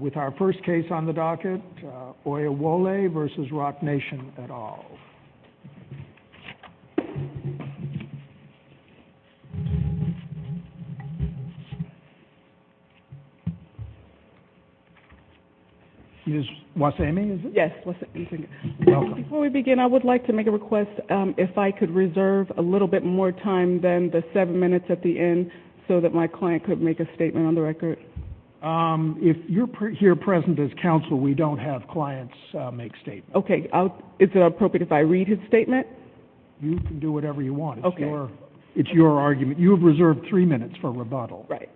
With our first case on the docket, Oyewole v. Rock Nation et al. You just want to say anything? Yes. Welcome. Before we begin, I would like to make a request. If I could reserve a little bit more time than the seven minutes at the end so that my client could make a statement on the record. Okay. If you're here present as counsel, we don't have clients make statements. Okay. Is it appropriate if I read his statement? You can do whatever you want. Okay. It's your argument. You have reserved three minutes for rebuttal. Right.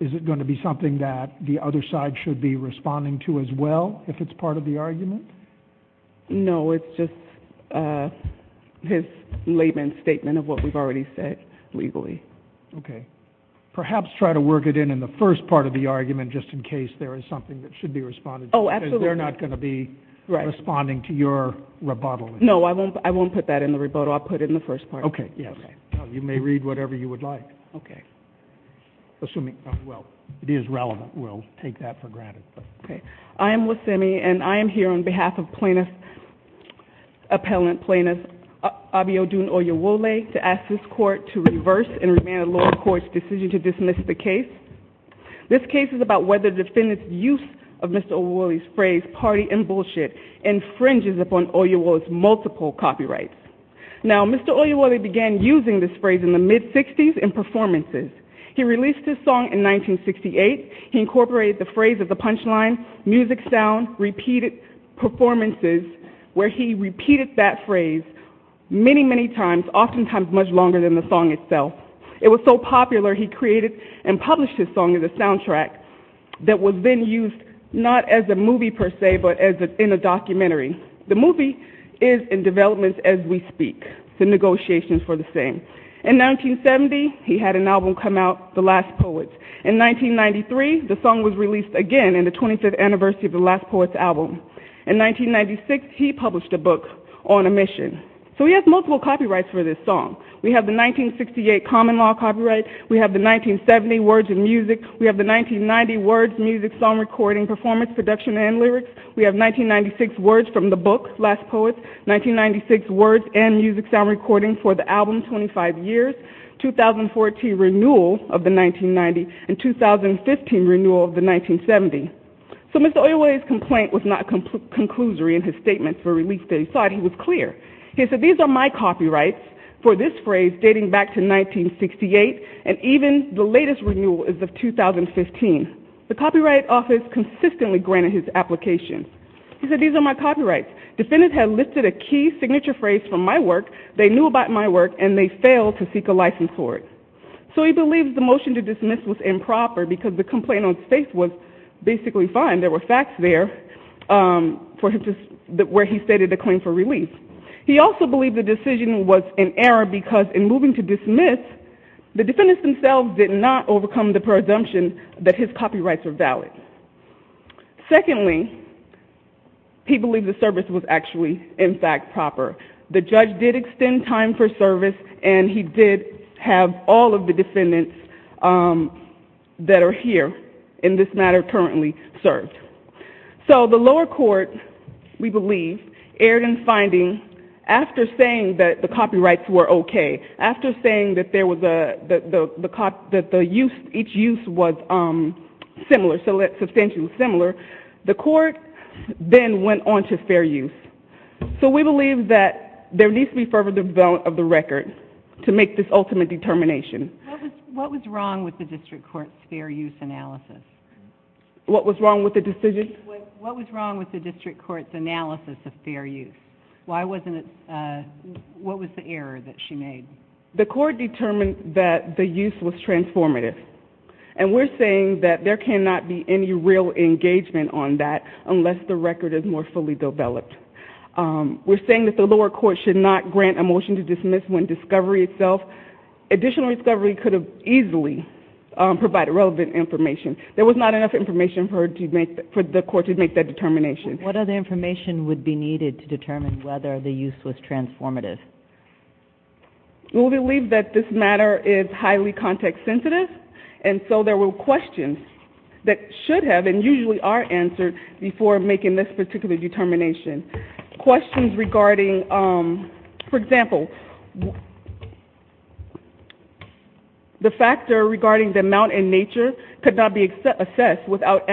Is it going to be something that the other side should be responding to as well if it's part of the argument? No. It's just his layman statement of what we've already said legally. Okay. Perhaps try to work it in in the first part of the argument just in case there is something that should be responded to. Oh, absolutely. Because they're not going to be responding to your rebuttal. No, I won't put that in the rebuttal. I'll put it in the first part. Okay. Yes. You may read whatever you would like. Okay. Assuming, well, it is relevant. We'll take that for granted. Okay. I am Wasemi, and I am here on behalf of plaintiff, appellant plaintiff, Abiodun Oyewole, to ask this court to reverse and remand the lower court's decision to dismiss the case. This case is about whether the defendant's use of Mr. Oyewole's phrase, party and bullshit, infringes upon Oyewole's multiple copyrights. Now, Mr. Oyewole began using this phrase in the mid-'60s in performances. He released his song in 1968. He incorporated the phrase of the punchline, music sound, repeated performances, where he repeated that phrase many, many times, oftentimes much longer than the song itself. It was so popular, he created and published his song as a soundtrack that was then used not as a movie, per se, but in a documentary. The movie is in development as we speak. It's in negotiations for the same. In 1970, he had an album come out, The Last Poets. In 1993, the song was released again in the 25th anniversary of The Last Poets album. In 1996, he published a book, On a Mission. So he has multiple copyrights for this song. We have the 1968 common law copyright. We have the 1970 words and music. We have the 1990 words, music, song, recording, performance, production, and lyrics. We have 1996 words from the book, Last Poets. 1996 words and music sound recording for the album, 25 Years. 2014 renewal of the 1990, and 2015 renewal of the 1970. So Mr. Oyaway's complaint was not conclusory in his statement for release that he sought. He was clear. He said, these are my copyrights for this phrase dating back to 1968, and even the latest renewal is of 2015. The Copyright Office consistently granted his application. He said, these are my copyrights. Defendants have listed a key signature phrase from my work, they knew about my work, and they failed to seek a license for it. So he believes the motion to dismiss was improper because the complaint on state was basically fine. There were facts there where he stated a claim for release. He also believed the decision was an error because in moving to dismiss, the defendants themselves did not overcome the presumption that his copyrights were valid. Secondly, he believed the service was actually, in fact, proper. The judge did extend time for service, and he did have all of the defendants that are here in this matter currently served. So the lower court, we believe, erred in finding after saying that the copyrights were okay, after saying that each use was similar, substantially similar, the court then went on to fair use. So we believe that there needs to be further development of the record to make this ultimate determination. What was wrong with the district court's fair use analysis? What was wrong with the decision? What was wrong with the district court's analysis of fair use? Why wasn't it, what was the error that she made? The court determined that the use was transformative, and we're saying that there cannot be any real engagement on that We're saying that the lower court should not grant a motion to dismiss when discovery itself, additional discovery could have easily provided relevant information. There was not enough information for the court to make that determination. What other information would be needed to determine whether the use was transformative? We believe that this matter is highly context sensitive, and so there were questions that should have, and usually are, answered before making this particular determination. Questions regarding, for example, the factor regarding the amount in nature could not be assessed without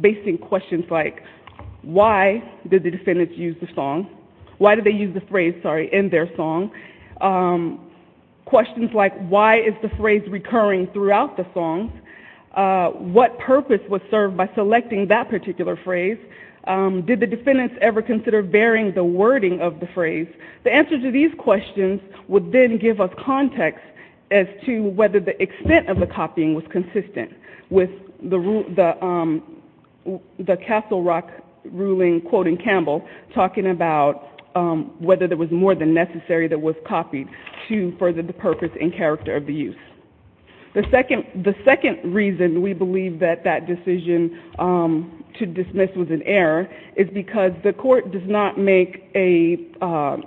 basing questions like, why did the defendants use the song? Why did they use the phrase, sorry, in their song? What purpose was served by selecting that particular phrase? Did the defendants ever consider varying the wording of the phrase? The answer to these questions would then give us context as to whether the extent of the copying was consistent with the Castle Rock ruling, quoting Campbell, talking about whether there was more than necessary that was copied to further the purpose and character of the use. The second reason we believe that that decision to dismiss was an error is because the court does not make an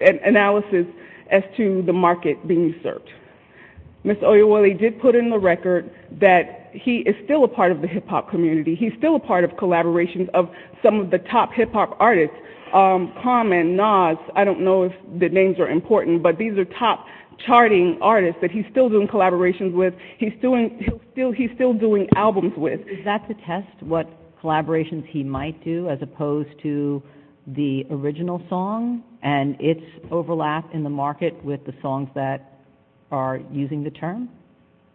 analysis as to the market being served. Ms. Oyewole did put in the record that he is still a part of the hip-hop community. He's still a part of collaborations of some of the top hip-hop artists, Common, Nas, I don't know if the names are important, but these are top charting artists that he's still doing collaborations with. He's still doing albums with. Is that to test what collaborations he might do as opposed to the original song and its overlap in the market with the songs that are using the term?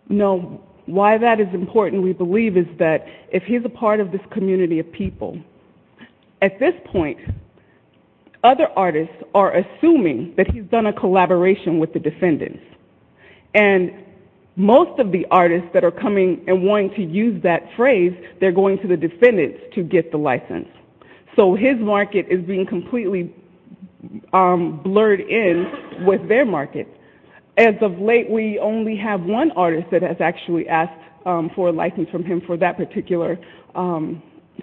No. Why that is important, we believe, is that if he's a part of this community of people, at this point, other artists are assuming that he's done a collaboration with the defendants, and most of the artists that are coming and wanting to use that phrase, they're going to the defendants to get the license. So his market is being completely blurred in with their market. As of late, we only have one artist that has actually asked for a license from him for that particular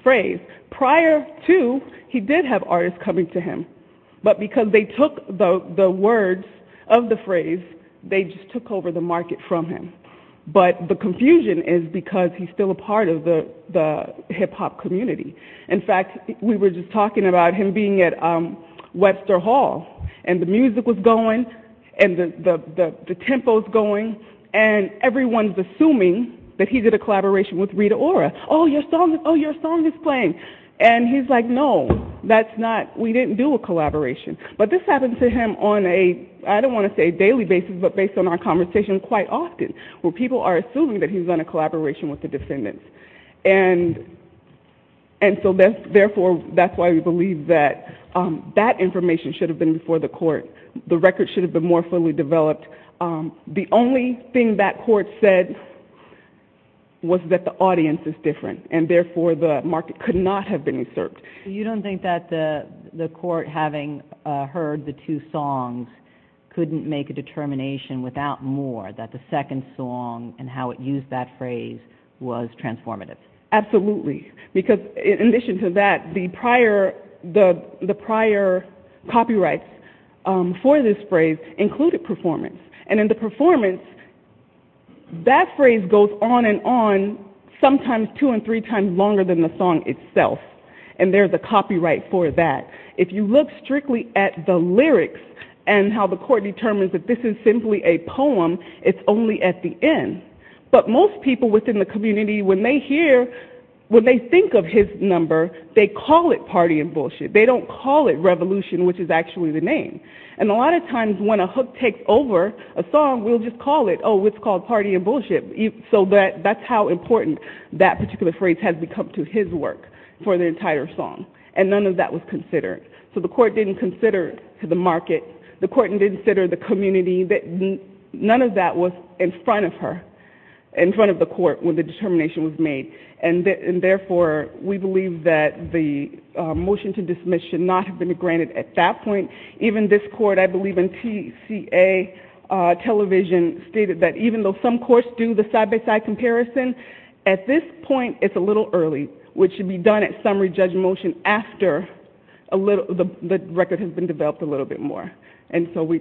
phrase. Prior to, he did have artists coming to him, but because they took the words of the phrase, they just took over the market from him. But the confusion is because he's still a part of the hip-hop community. In fact, we were just talking about him being at Webster Hall, and everyone's assuming that he did a collaboration with Rita Ora. Oh, your song is playing. And he's like, no, we didn't do a collaboration. But this happens to him on a, I don't want to say daily basis, but based on our conversations quite often, where people are assuming that he's done a collaboration with the defendants. And so therefore, that's why we believe that that information should have been before the court. The record should have been more fully developed. The only thing that court said was that the audience is different, and therefore the market could not have been usurped. You don't think that the court, having heard the two songs, couldn't make a determination without more that the second song and how it used that phrase was transformative? Absolutely, because in addition to that, the prior copyrights for this phrase included performance. And in the performance, that phrase goes on and on, sometimes two and three times longer than the song itself. And there's a copyright for that. If you look strictly at the lyrics and how the court determines that this is simply a poem, it's only at the end. But most people within the community, when they hear, when they think of his number, they call it party and bullshit. They don't call it revolution, which is actually the name. And a lot of times when a hook takes over a song, we'll just call it, oh, it's called party and bullshit. So that's how important that particular phrase has become to his work for the entire song. And none of that was considered. So the court didn't consider the market. The court didn't consider the community. None of that was in front of her, in front of the court, when the determination was made. And, therefore, we believe that the motion to dismiss should not have been granted at that point. Even this court, I believe in TCA television, stated that even though some courts do the side-by-side comparison, at this point it's a little early, which should be done at summary judge motion after the record has been developed a little bit more. And so we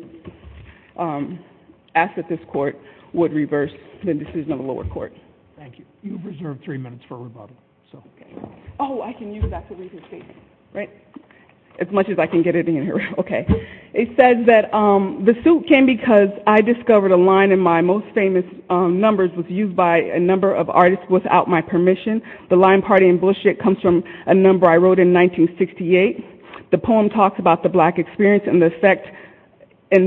ask that this court would reverse the decision of the lower court. Thank you. You've reserved three minutes for rebuttal. Oh, I can use that to read the statement, right? As much as I can get it in here. Okay. It says that the suit came because I discovered a line in my most famous numbers was used by a number of artists without my permission. The line party and bullshit comes from a number I wrote in 1968. The poem talks about the black experience and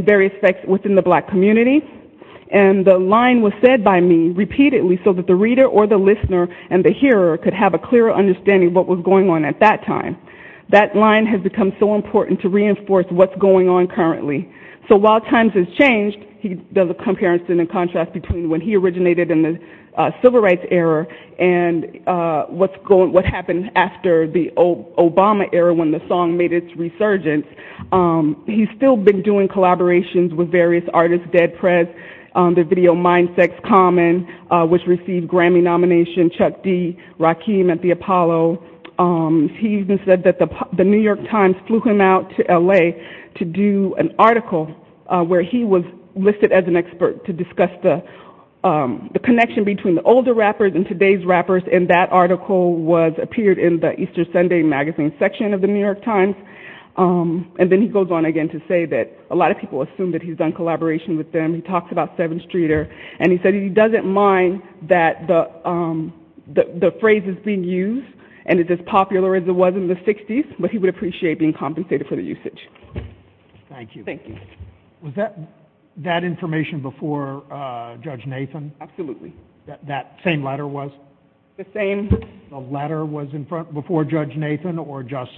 various effects within the black community. And the line was said by me repeatedly so that the reader or the listener and the hearer could have a clearer understanding of what was going on at that time. That line has become so important to reinforce what's going on currently. So while times have changed, he does a comparison and contrast between when he originated in the Civil Rights era and what happened after the Obama era when the song made its resurgence. He's still been doing collaborations with various artists, dead press, the video Mind Sex Common, which received Grammy nomination, Chuck D, Rakim at the Apollo. He even said that the New York Times flew him out to L.A. to do an article where he was listed as an expert to discuss the connection between the older rappers and today's rappers, and that article appeared in the Easter Sunday Magazine section of the New York Times. And then he goes on again to say that a lot of people assume that he's done collaboration with them. He talks about 7th Streeter, and he said he doesn't mind that the phrase is being used and it's as popular as it was in the 60s, but he would appreciate being compensated for the usage. Thank you. Thank you. Was that information before Judge Nathan? Absolutely. That same letter was? The same. The letter was in front before Judge Nathan, or just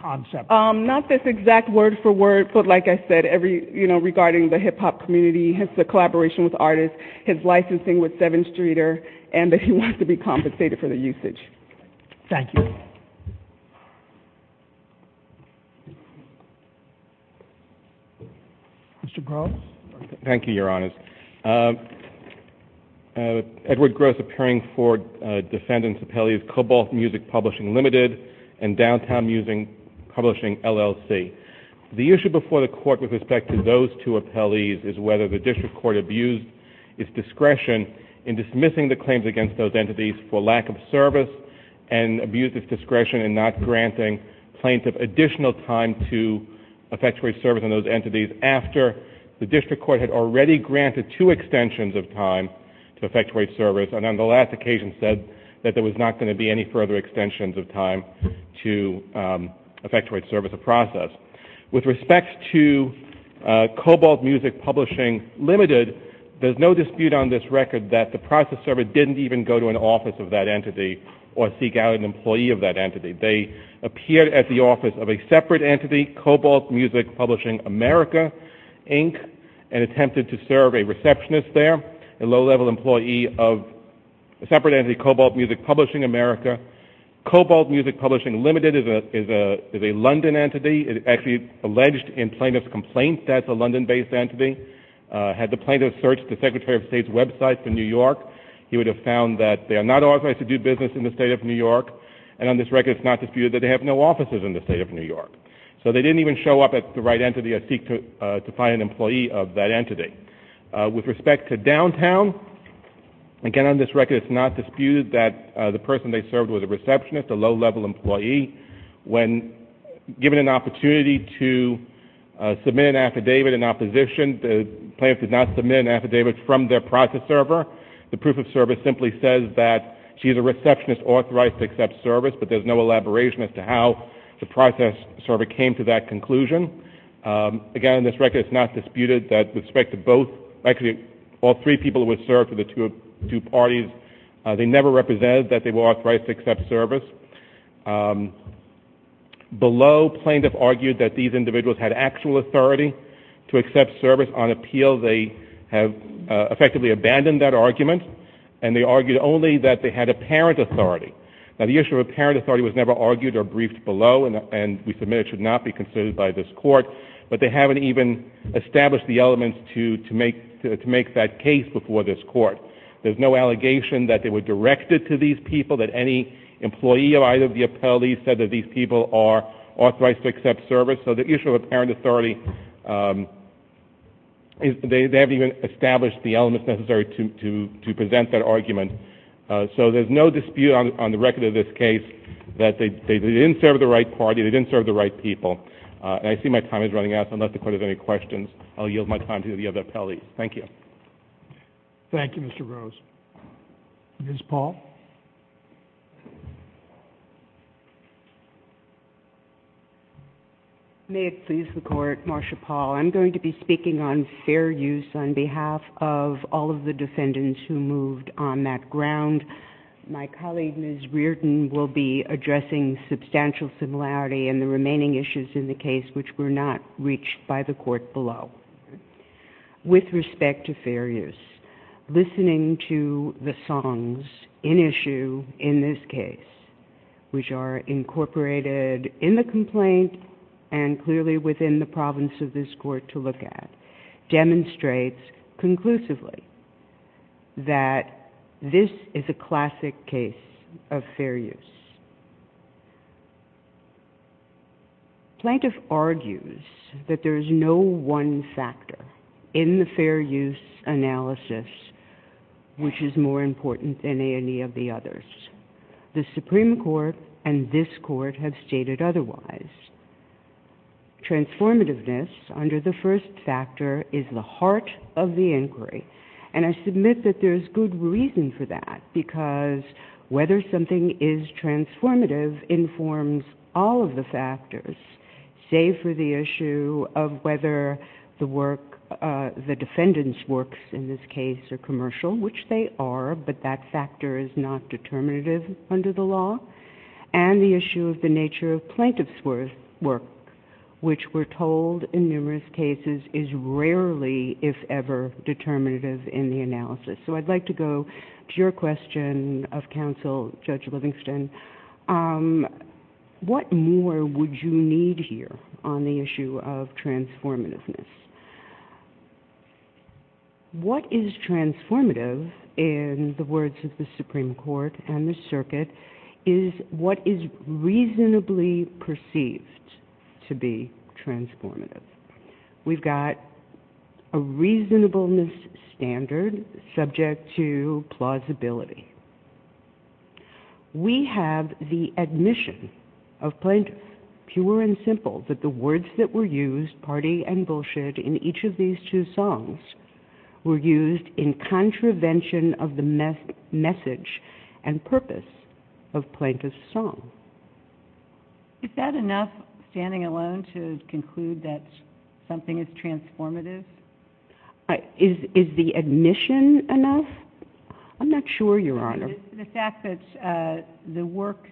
concept? Not this exact word for word, but like I said, regarding the hip-hop community, his collaboration with artists, his licensing with 7th Streeter, and that he wants to be compensated for the usage. Thank you. Mr. Gross? Thank you, Your Honor. Edward Gross, appearing for defendants' appellees, Cobalt Music Publishing Ltd. and Downtown Music Publishing LLC. The issue before the court with respect to those two appellees is whether the district court abused its discretion in dismissing the claims against those entities for lack of service and abused its discretion in not granting plaintiff additional time to effectuate service on those entities after the district court had already granted two extensions of time to effectuate service and on the last occasion said that there was not going to be any further extensions of time to effectuate service of process. With respect to Cobalt Music Publishing Ltd., there's no dispute on this record that the process server didn't even go to an office of that entity or seek out an employee of that entity. They appeared at the office of a separate entity, Cobalt Music Publishing America, Inc., and attempted to serve a receptionist there, a low-level employee of a separate entity, Cobalt Music Publishing America. Cobalt Music Publishing Ltd. is a London entity. It actually alleged in plaintiff's complaint that it's a London-based entity. Had the plaintiff searched the Secretary of State's website for New York, he would have found that they are not authorized to do business in the state of New York, and on this record it's not disputed that they have no offices in the state of New York. So they didn't even show up at the right entity or seek to find an employee of that entity. With respect to Downtown, again on this record it's not disputed that the person they served was a receptionist, a low-level employee. When given an opportunity to submit an affidavit in opposition, the plaintiff did not submit an affidavit from their process server. The proof of service simply says that she's a receptionist authorized to accept service, but there's no elaboration as to how the process server came to that conclusion. Again, on this record it's not disputed that with respect to both, actually all three people who had served for the two parties, they never represented that they were authorized to accept service. Below, plaintiff argued that these individuals had actual authority to accept service on appeal. They have effectively abandoned that argument, and they argued only that they had apparent authority. Now the issue of apparent authority was never argued or briefed below, and we submit it should not be considered by this Court, but they haven't even established the elements to make that case before this Court. There's no allegation that they were directed to these people, that any employee of either of the appellees said that these people are authorized to accept service. So the issue of apparent authority, they haven't even established the elements necessary to present that argument. So there's no dispute on the record of this case that they didn't serve the right party, they didn't serve the right people, and I see my time is running out, so unless the Court has any questions, I'll yield my time to the other appellees. Thank you. Thank you, Mr. Rose. Ms. Paul. May it please the Court, Marsha Paul. I'm going to be speaking on fair use on behalf of all of the defendants who moved on that ground. My colleague, Ms. Reardon, will be addressing substantial similarity in the remaining issues in the case which were not reached by the Court below. With respect to fair use, listening to the songs in issue in this case, which are incorporated in the complaint and clearly within the province of this Court to look at, demonstrates conclusively that this is a classic case of fair use. Plaintiff argues that there is no one factor in the fair use analysis which is more important than any of the others. The Supreme Court and this Court have stated otherwise. Transformativeness, under the first factor, is the heart of the inquiry, and I submit that there is good reason for that, because whether something is transformative informs all of the factors, save for the issue of whether the defendant's works in this case are commercial, which they are, but that factor is not determinative under the law, and the issue of the nature of plaintiff's work, which we're told in numerous cases is rarely, if ever, determinative in the analysis. So I'd like to go to your question of counsel, Judge Livingston. What more would you need here on the issue of transformativeness? What is transformative, in the words of the Supreme Court and the Circuit, is what is reasonably perceived to be transformative. We've got a reasonableness standard subject to plausibility. We have the admission of plaintiffs, pure and simple, that the words that were used, party and bullshit, in each of these two songs were used in contravention of the message and purpose of plaintiff's song. Is that enough, standing alone, to conclude that something is transformative? Is the admission enough? I'm not sure, Your Honor. The fact that the work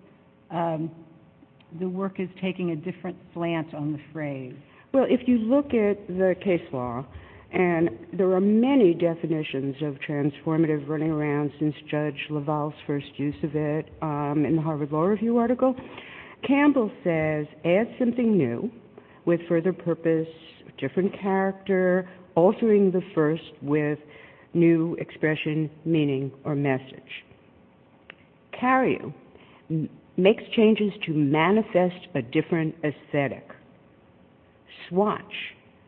is taking a different slant on the phrase. Well, if you look at the case law, and there are many definitions of transformative running around since Judge LaValle's first use of it in the Harvard Law Review article. Campbell says, add something new, with further purpose, different character, altering the first with new expression, meaning, or message. Cariou makes changes to manifest a different aesthetic. Swatch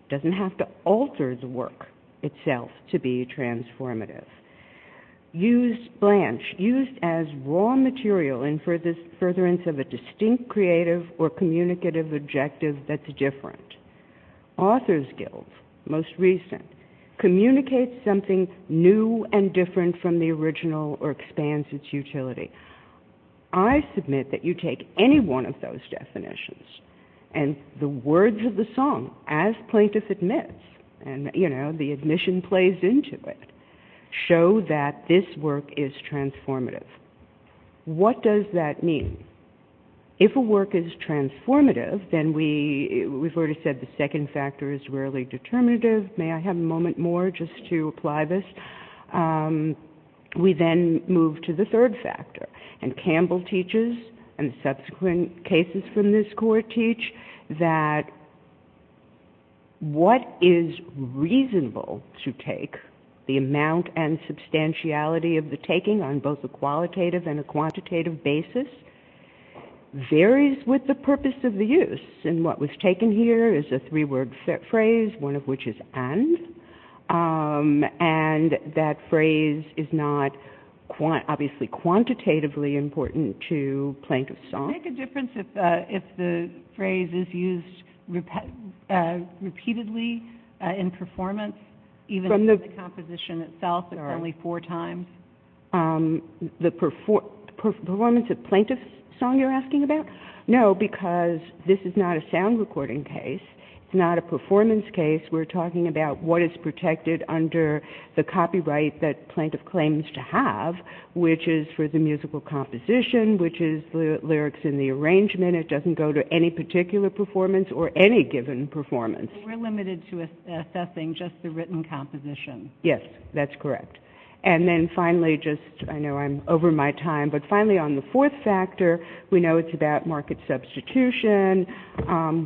doesn't have to alter the work itself to be transformative. Use Blanche, used as raw material in furtherance of a distinct creative or communicative objective that's different. Authors Guild, most recent, communicates something new and different from the original, or expands its utility. I submit that you take any one of those definitions, and the words of the song, as plaintiff admits, and, you know, the admission plays into it, show that this work is transformative. What does that mean? If a work is transformative, then we've already said the second factor is rarely determinative. May I have a moment more just to apply this? We then move to the third factor, and Campbell teaches, and subsequent cases from this court teach, that what is reasonable to take, the amount and substantiality of the taking on both a qualitative and a quantitative basis, varies with the purpose of the use. And what was taken here is a three-word phrase, one of which is and, and that phrase is not, obviously, quantitatively important to plaintiff's song. Would it make a difference if the phrase is used repeatedly in performance, even in the composition itself, if only four times? The performance of plaintiff's song, you're asking about? No, because this is not a sound recording case. It's not a performance case. We're talking about what is protected under the copyright that plaintiff claims to have, which is for the musical composition, which is the lyrics in the arrangement. It doesn't go to any particular performance or any given performance. We're limited to assessing just the written composition. Yes, that's correct. And then finally, just I know I'm over my time, but finally on the fourth factor, we know it's about market substitution.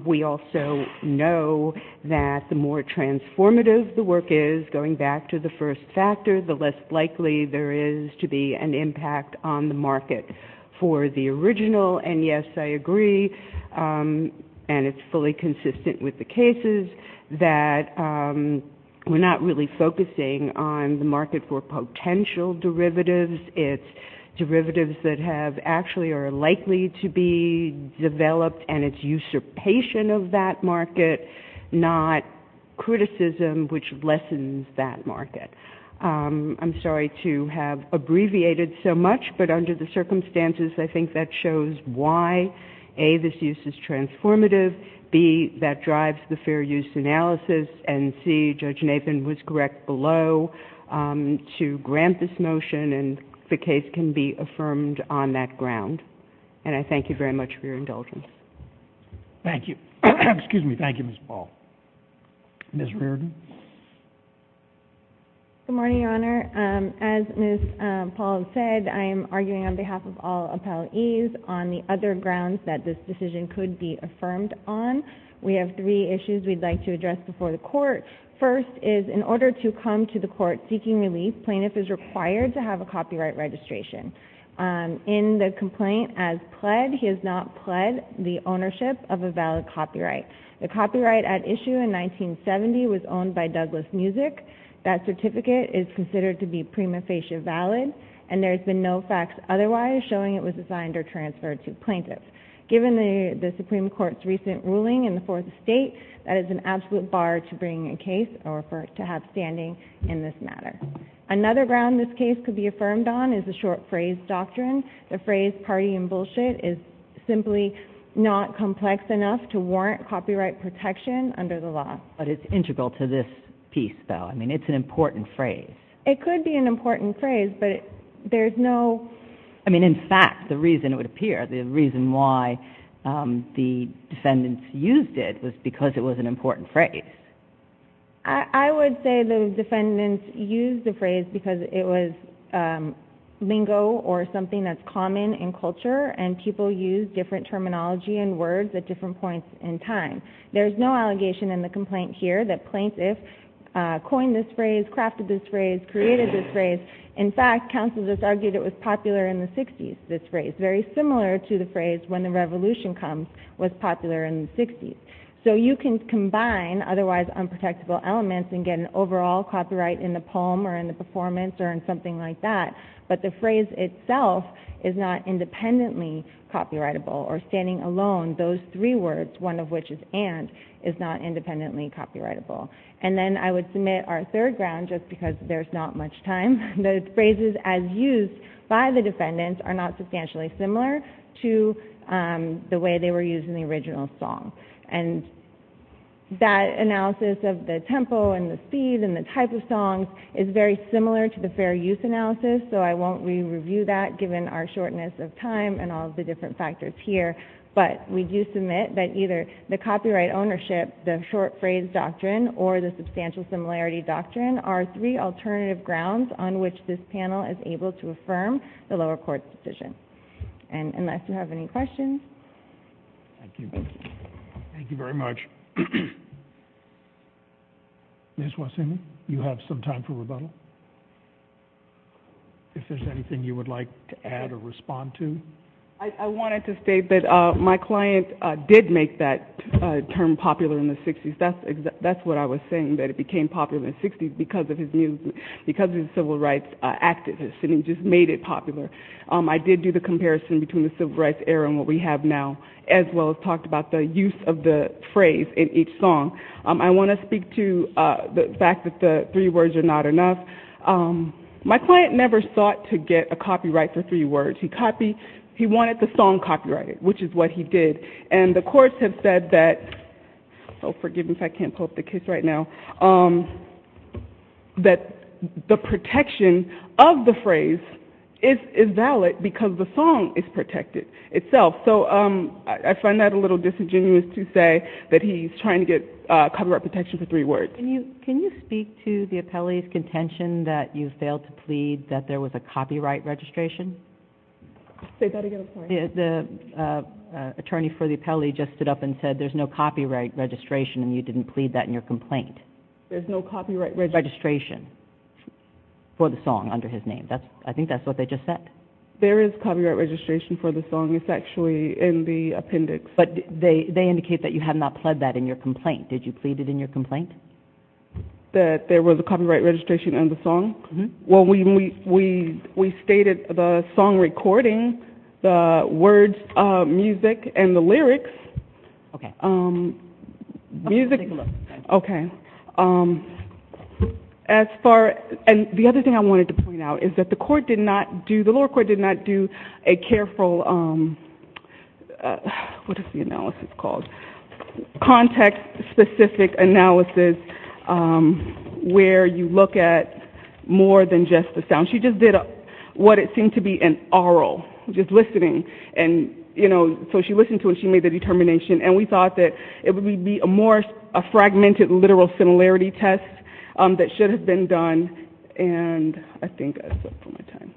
We also know that the more transformative the work is, going back to the first factor, the less likely there is to be an impact on the market for the original. And, yes, I agree, and it's fully consistent with the cases, that we're not really focusing on the market for potential derivatives. It's derivatives that actually are likely to be developed, and it's usurpation of that market, not criticism, which lessens that market. I'm sorry to have abbreviated so much, but under the circumstances, I think that shows why, A, this use is transformative, B, that drives the fair use analysis, and C, Judge Nathan was correct below to grant this motion, and the case can be affirmed on that ground. And I thank you very much for your indulgence. Thank you. Excuse me. Thank you, Ms. Paul. Ms. Reardon. Good morning, Your Honor. As Ms. Paul said, I am arguing on behalf of all appellees on the other grounds that this decision could be affirmed on. We have three issues we'd like to address before the Court. First is, in order to come to the Court seeking relief, plaintiff is required to have a copyright registration. In the complaint as pled, he has not pled the ownership of a valid copyright. The copyright at issue in 1970 was owned by Douglas Music. That certificate is considered to be prima facie valid, and there has been no facts otherwise showing it was assigned or transferred to a plaintiff. Given the Supreme Court's recent ruling in the Fourth Estate, that is an absolute bar to bring a case or to have standing in this matter. Another ground this case could be affirmed on is the short phrase doctrine. The phrase party and bullshit is simply not complex enough to warrant copyright protection under the law. But it's integral to this piece, though. I mean, it's an important phrase. It could be an important phrase, but there's no... I mean, in fact, the reason it would appear, the reason why the defendants used it was because it was an important phrase. I would say the defendants used the phrase because it was lingo or something that's common in culture, and people use different terminology and words at different points in time. There's no allegation in the complaint here that plaintiffs coined this phrase, crafted this phrase, created this phrase. In fact, counsel just argued it was popular in the 60s, this phrase, very similar to the phrase when the revolution comes was popular in the 60s. So you can combine otherwise unprotectable elements and get an overall copyright in the poem or in the performance or in something like that, but the phrase itself is not independently copyrightable, or standing alone, those three words, one of which is and, is not independently copyrightable. And then I would submit our third ground, just because there's not much time, the phrases as used by the defendants are not substantially similar to the way they were used in the original song. And that analysis of the tempo and the speed and the type of song is very similar to the fair use analysis, so I won't re-review that given our shortness of time and all of the different factors here, but we do submit that either the copyright ownership, the short phrase doctrine, or the substantial similarity doctrine are three alternative grounds on which this panel is able to affirm the lower court's decision. And unless you have any questions. Thank you. Thank you very much. Ms. Wasson, you have some time for rebuttal. If there's anything you would like to add or respond to. I wanted to state that my client did make that term popular in the 60s. That's what I was saying, that it became popular in the 60s because of his Civil Rights activism. He just made it popular. I did do the comparison between the Civil Rights era and what we have now, as well as talked about the use of the phrase in each song. I want to speak to the fact that the three words are not enough. My client never sought to get a copyright for three words. He wanted the song copyrighted, which is what he did. And the courts have said that the protection of the phrase is valid because the song is protected itself. So I find that a little disingenuous to say that he's trying to get copyright protection for three words. Can you speak to the appellee's contention that you failed to plead that there was a copyright registration? The attorney for the appellee just stood up and said, there's no copyright registration, and you didn't plead that in your complaint. There's no copyright registration. For the song under his name. I think that's what they just said. There is copyright registration for the song. It's actually in the appendix. But they indicate that you have not pled that in your complaint. Did you plead it in your complaint? That there was a copyright registration in the song? Well, we stated the song recording, the words, music, and the lyrics. Okay. Music. Let's take a look. Okay. As far as the other thing I wanted to point out is that the court did not do, the lower court did not do a careful, what is the analysis called, context-specific analysis where you look at more than just the sound. She just did what it seemed to be an aural, just listening. And, you know, so she listened to it and she made the determination. And we thought that it would be a more fragmented, literal similarity test that should have been done. And I think that's it for my time.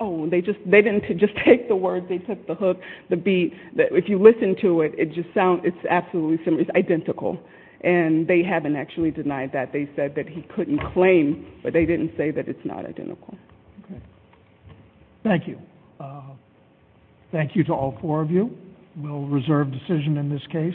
Oh, they didn't just take the words. They took the hook, the beat. If you listen to it, it's absolutely identical. And they haven't actually denied that. They said that he couldn't claim, but they didn't say that it's not identical. Okay. Thank you. Thank you to all four of you. We'll reserve decision in this case. So.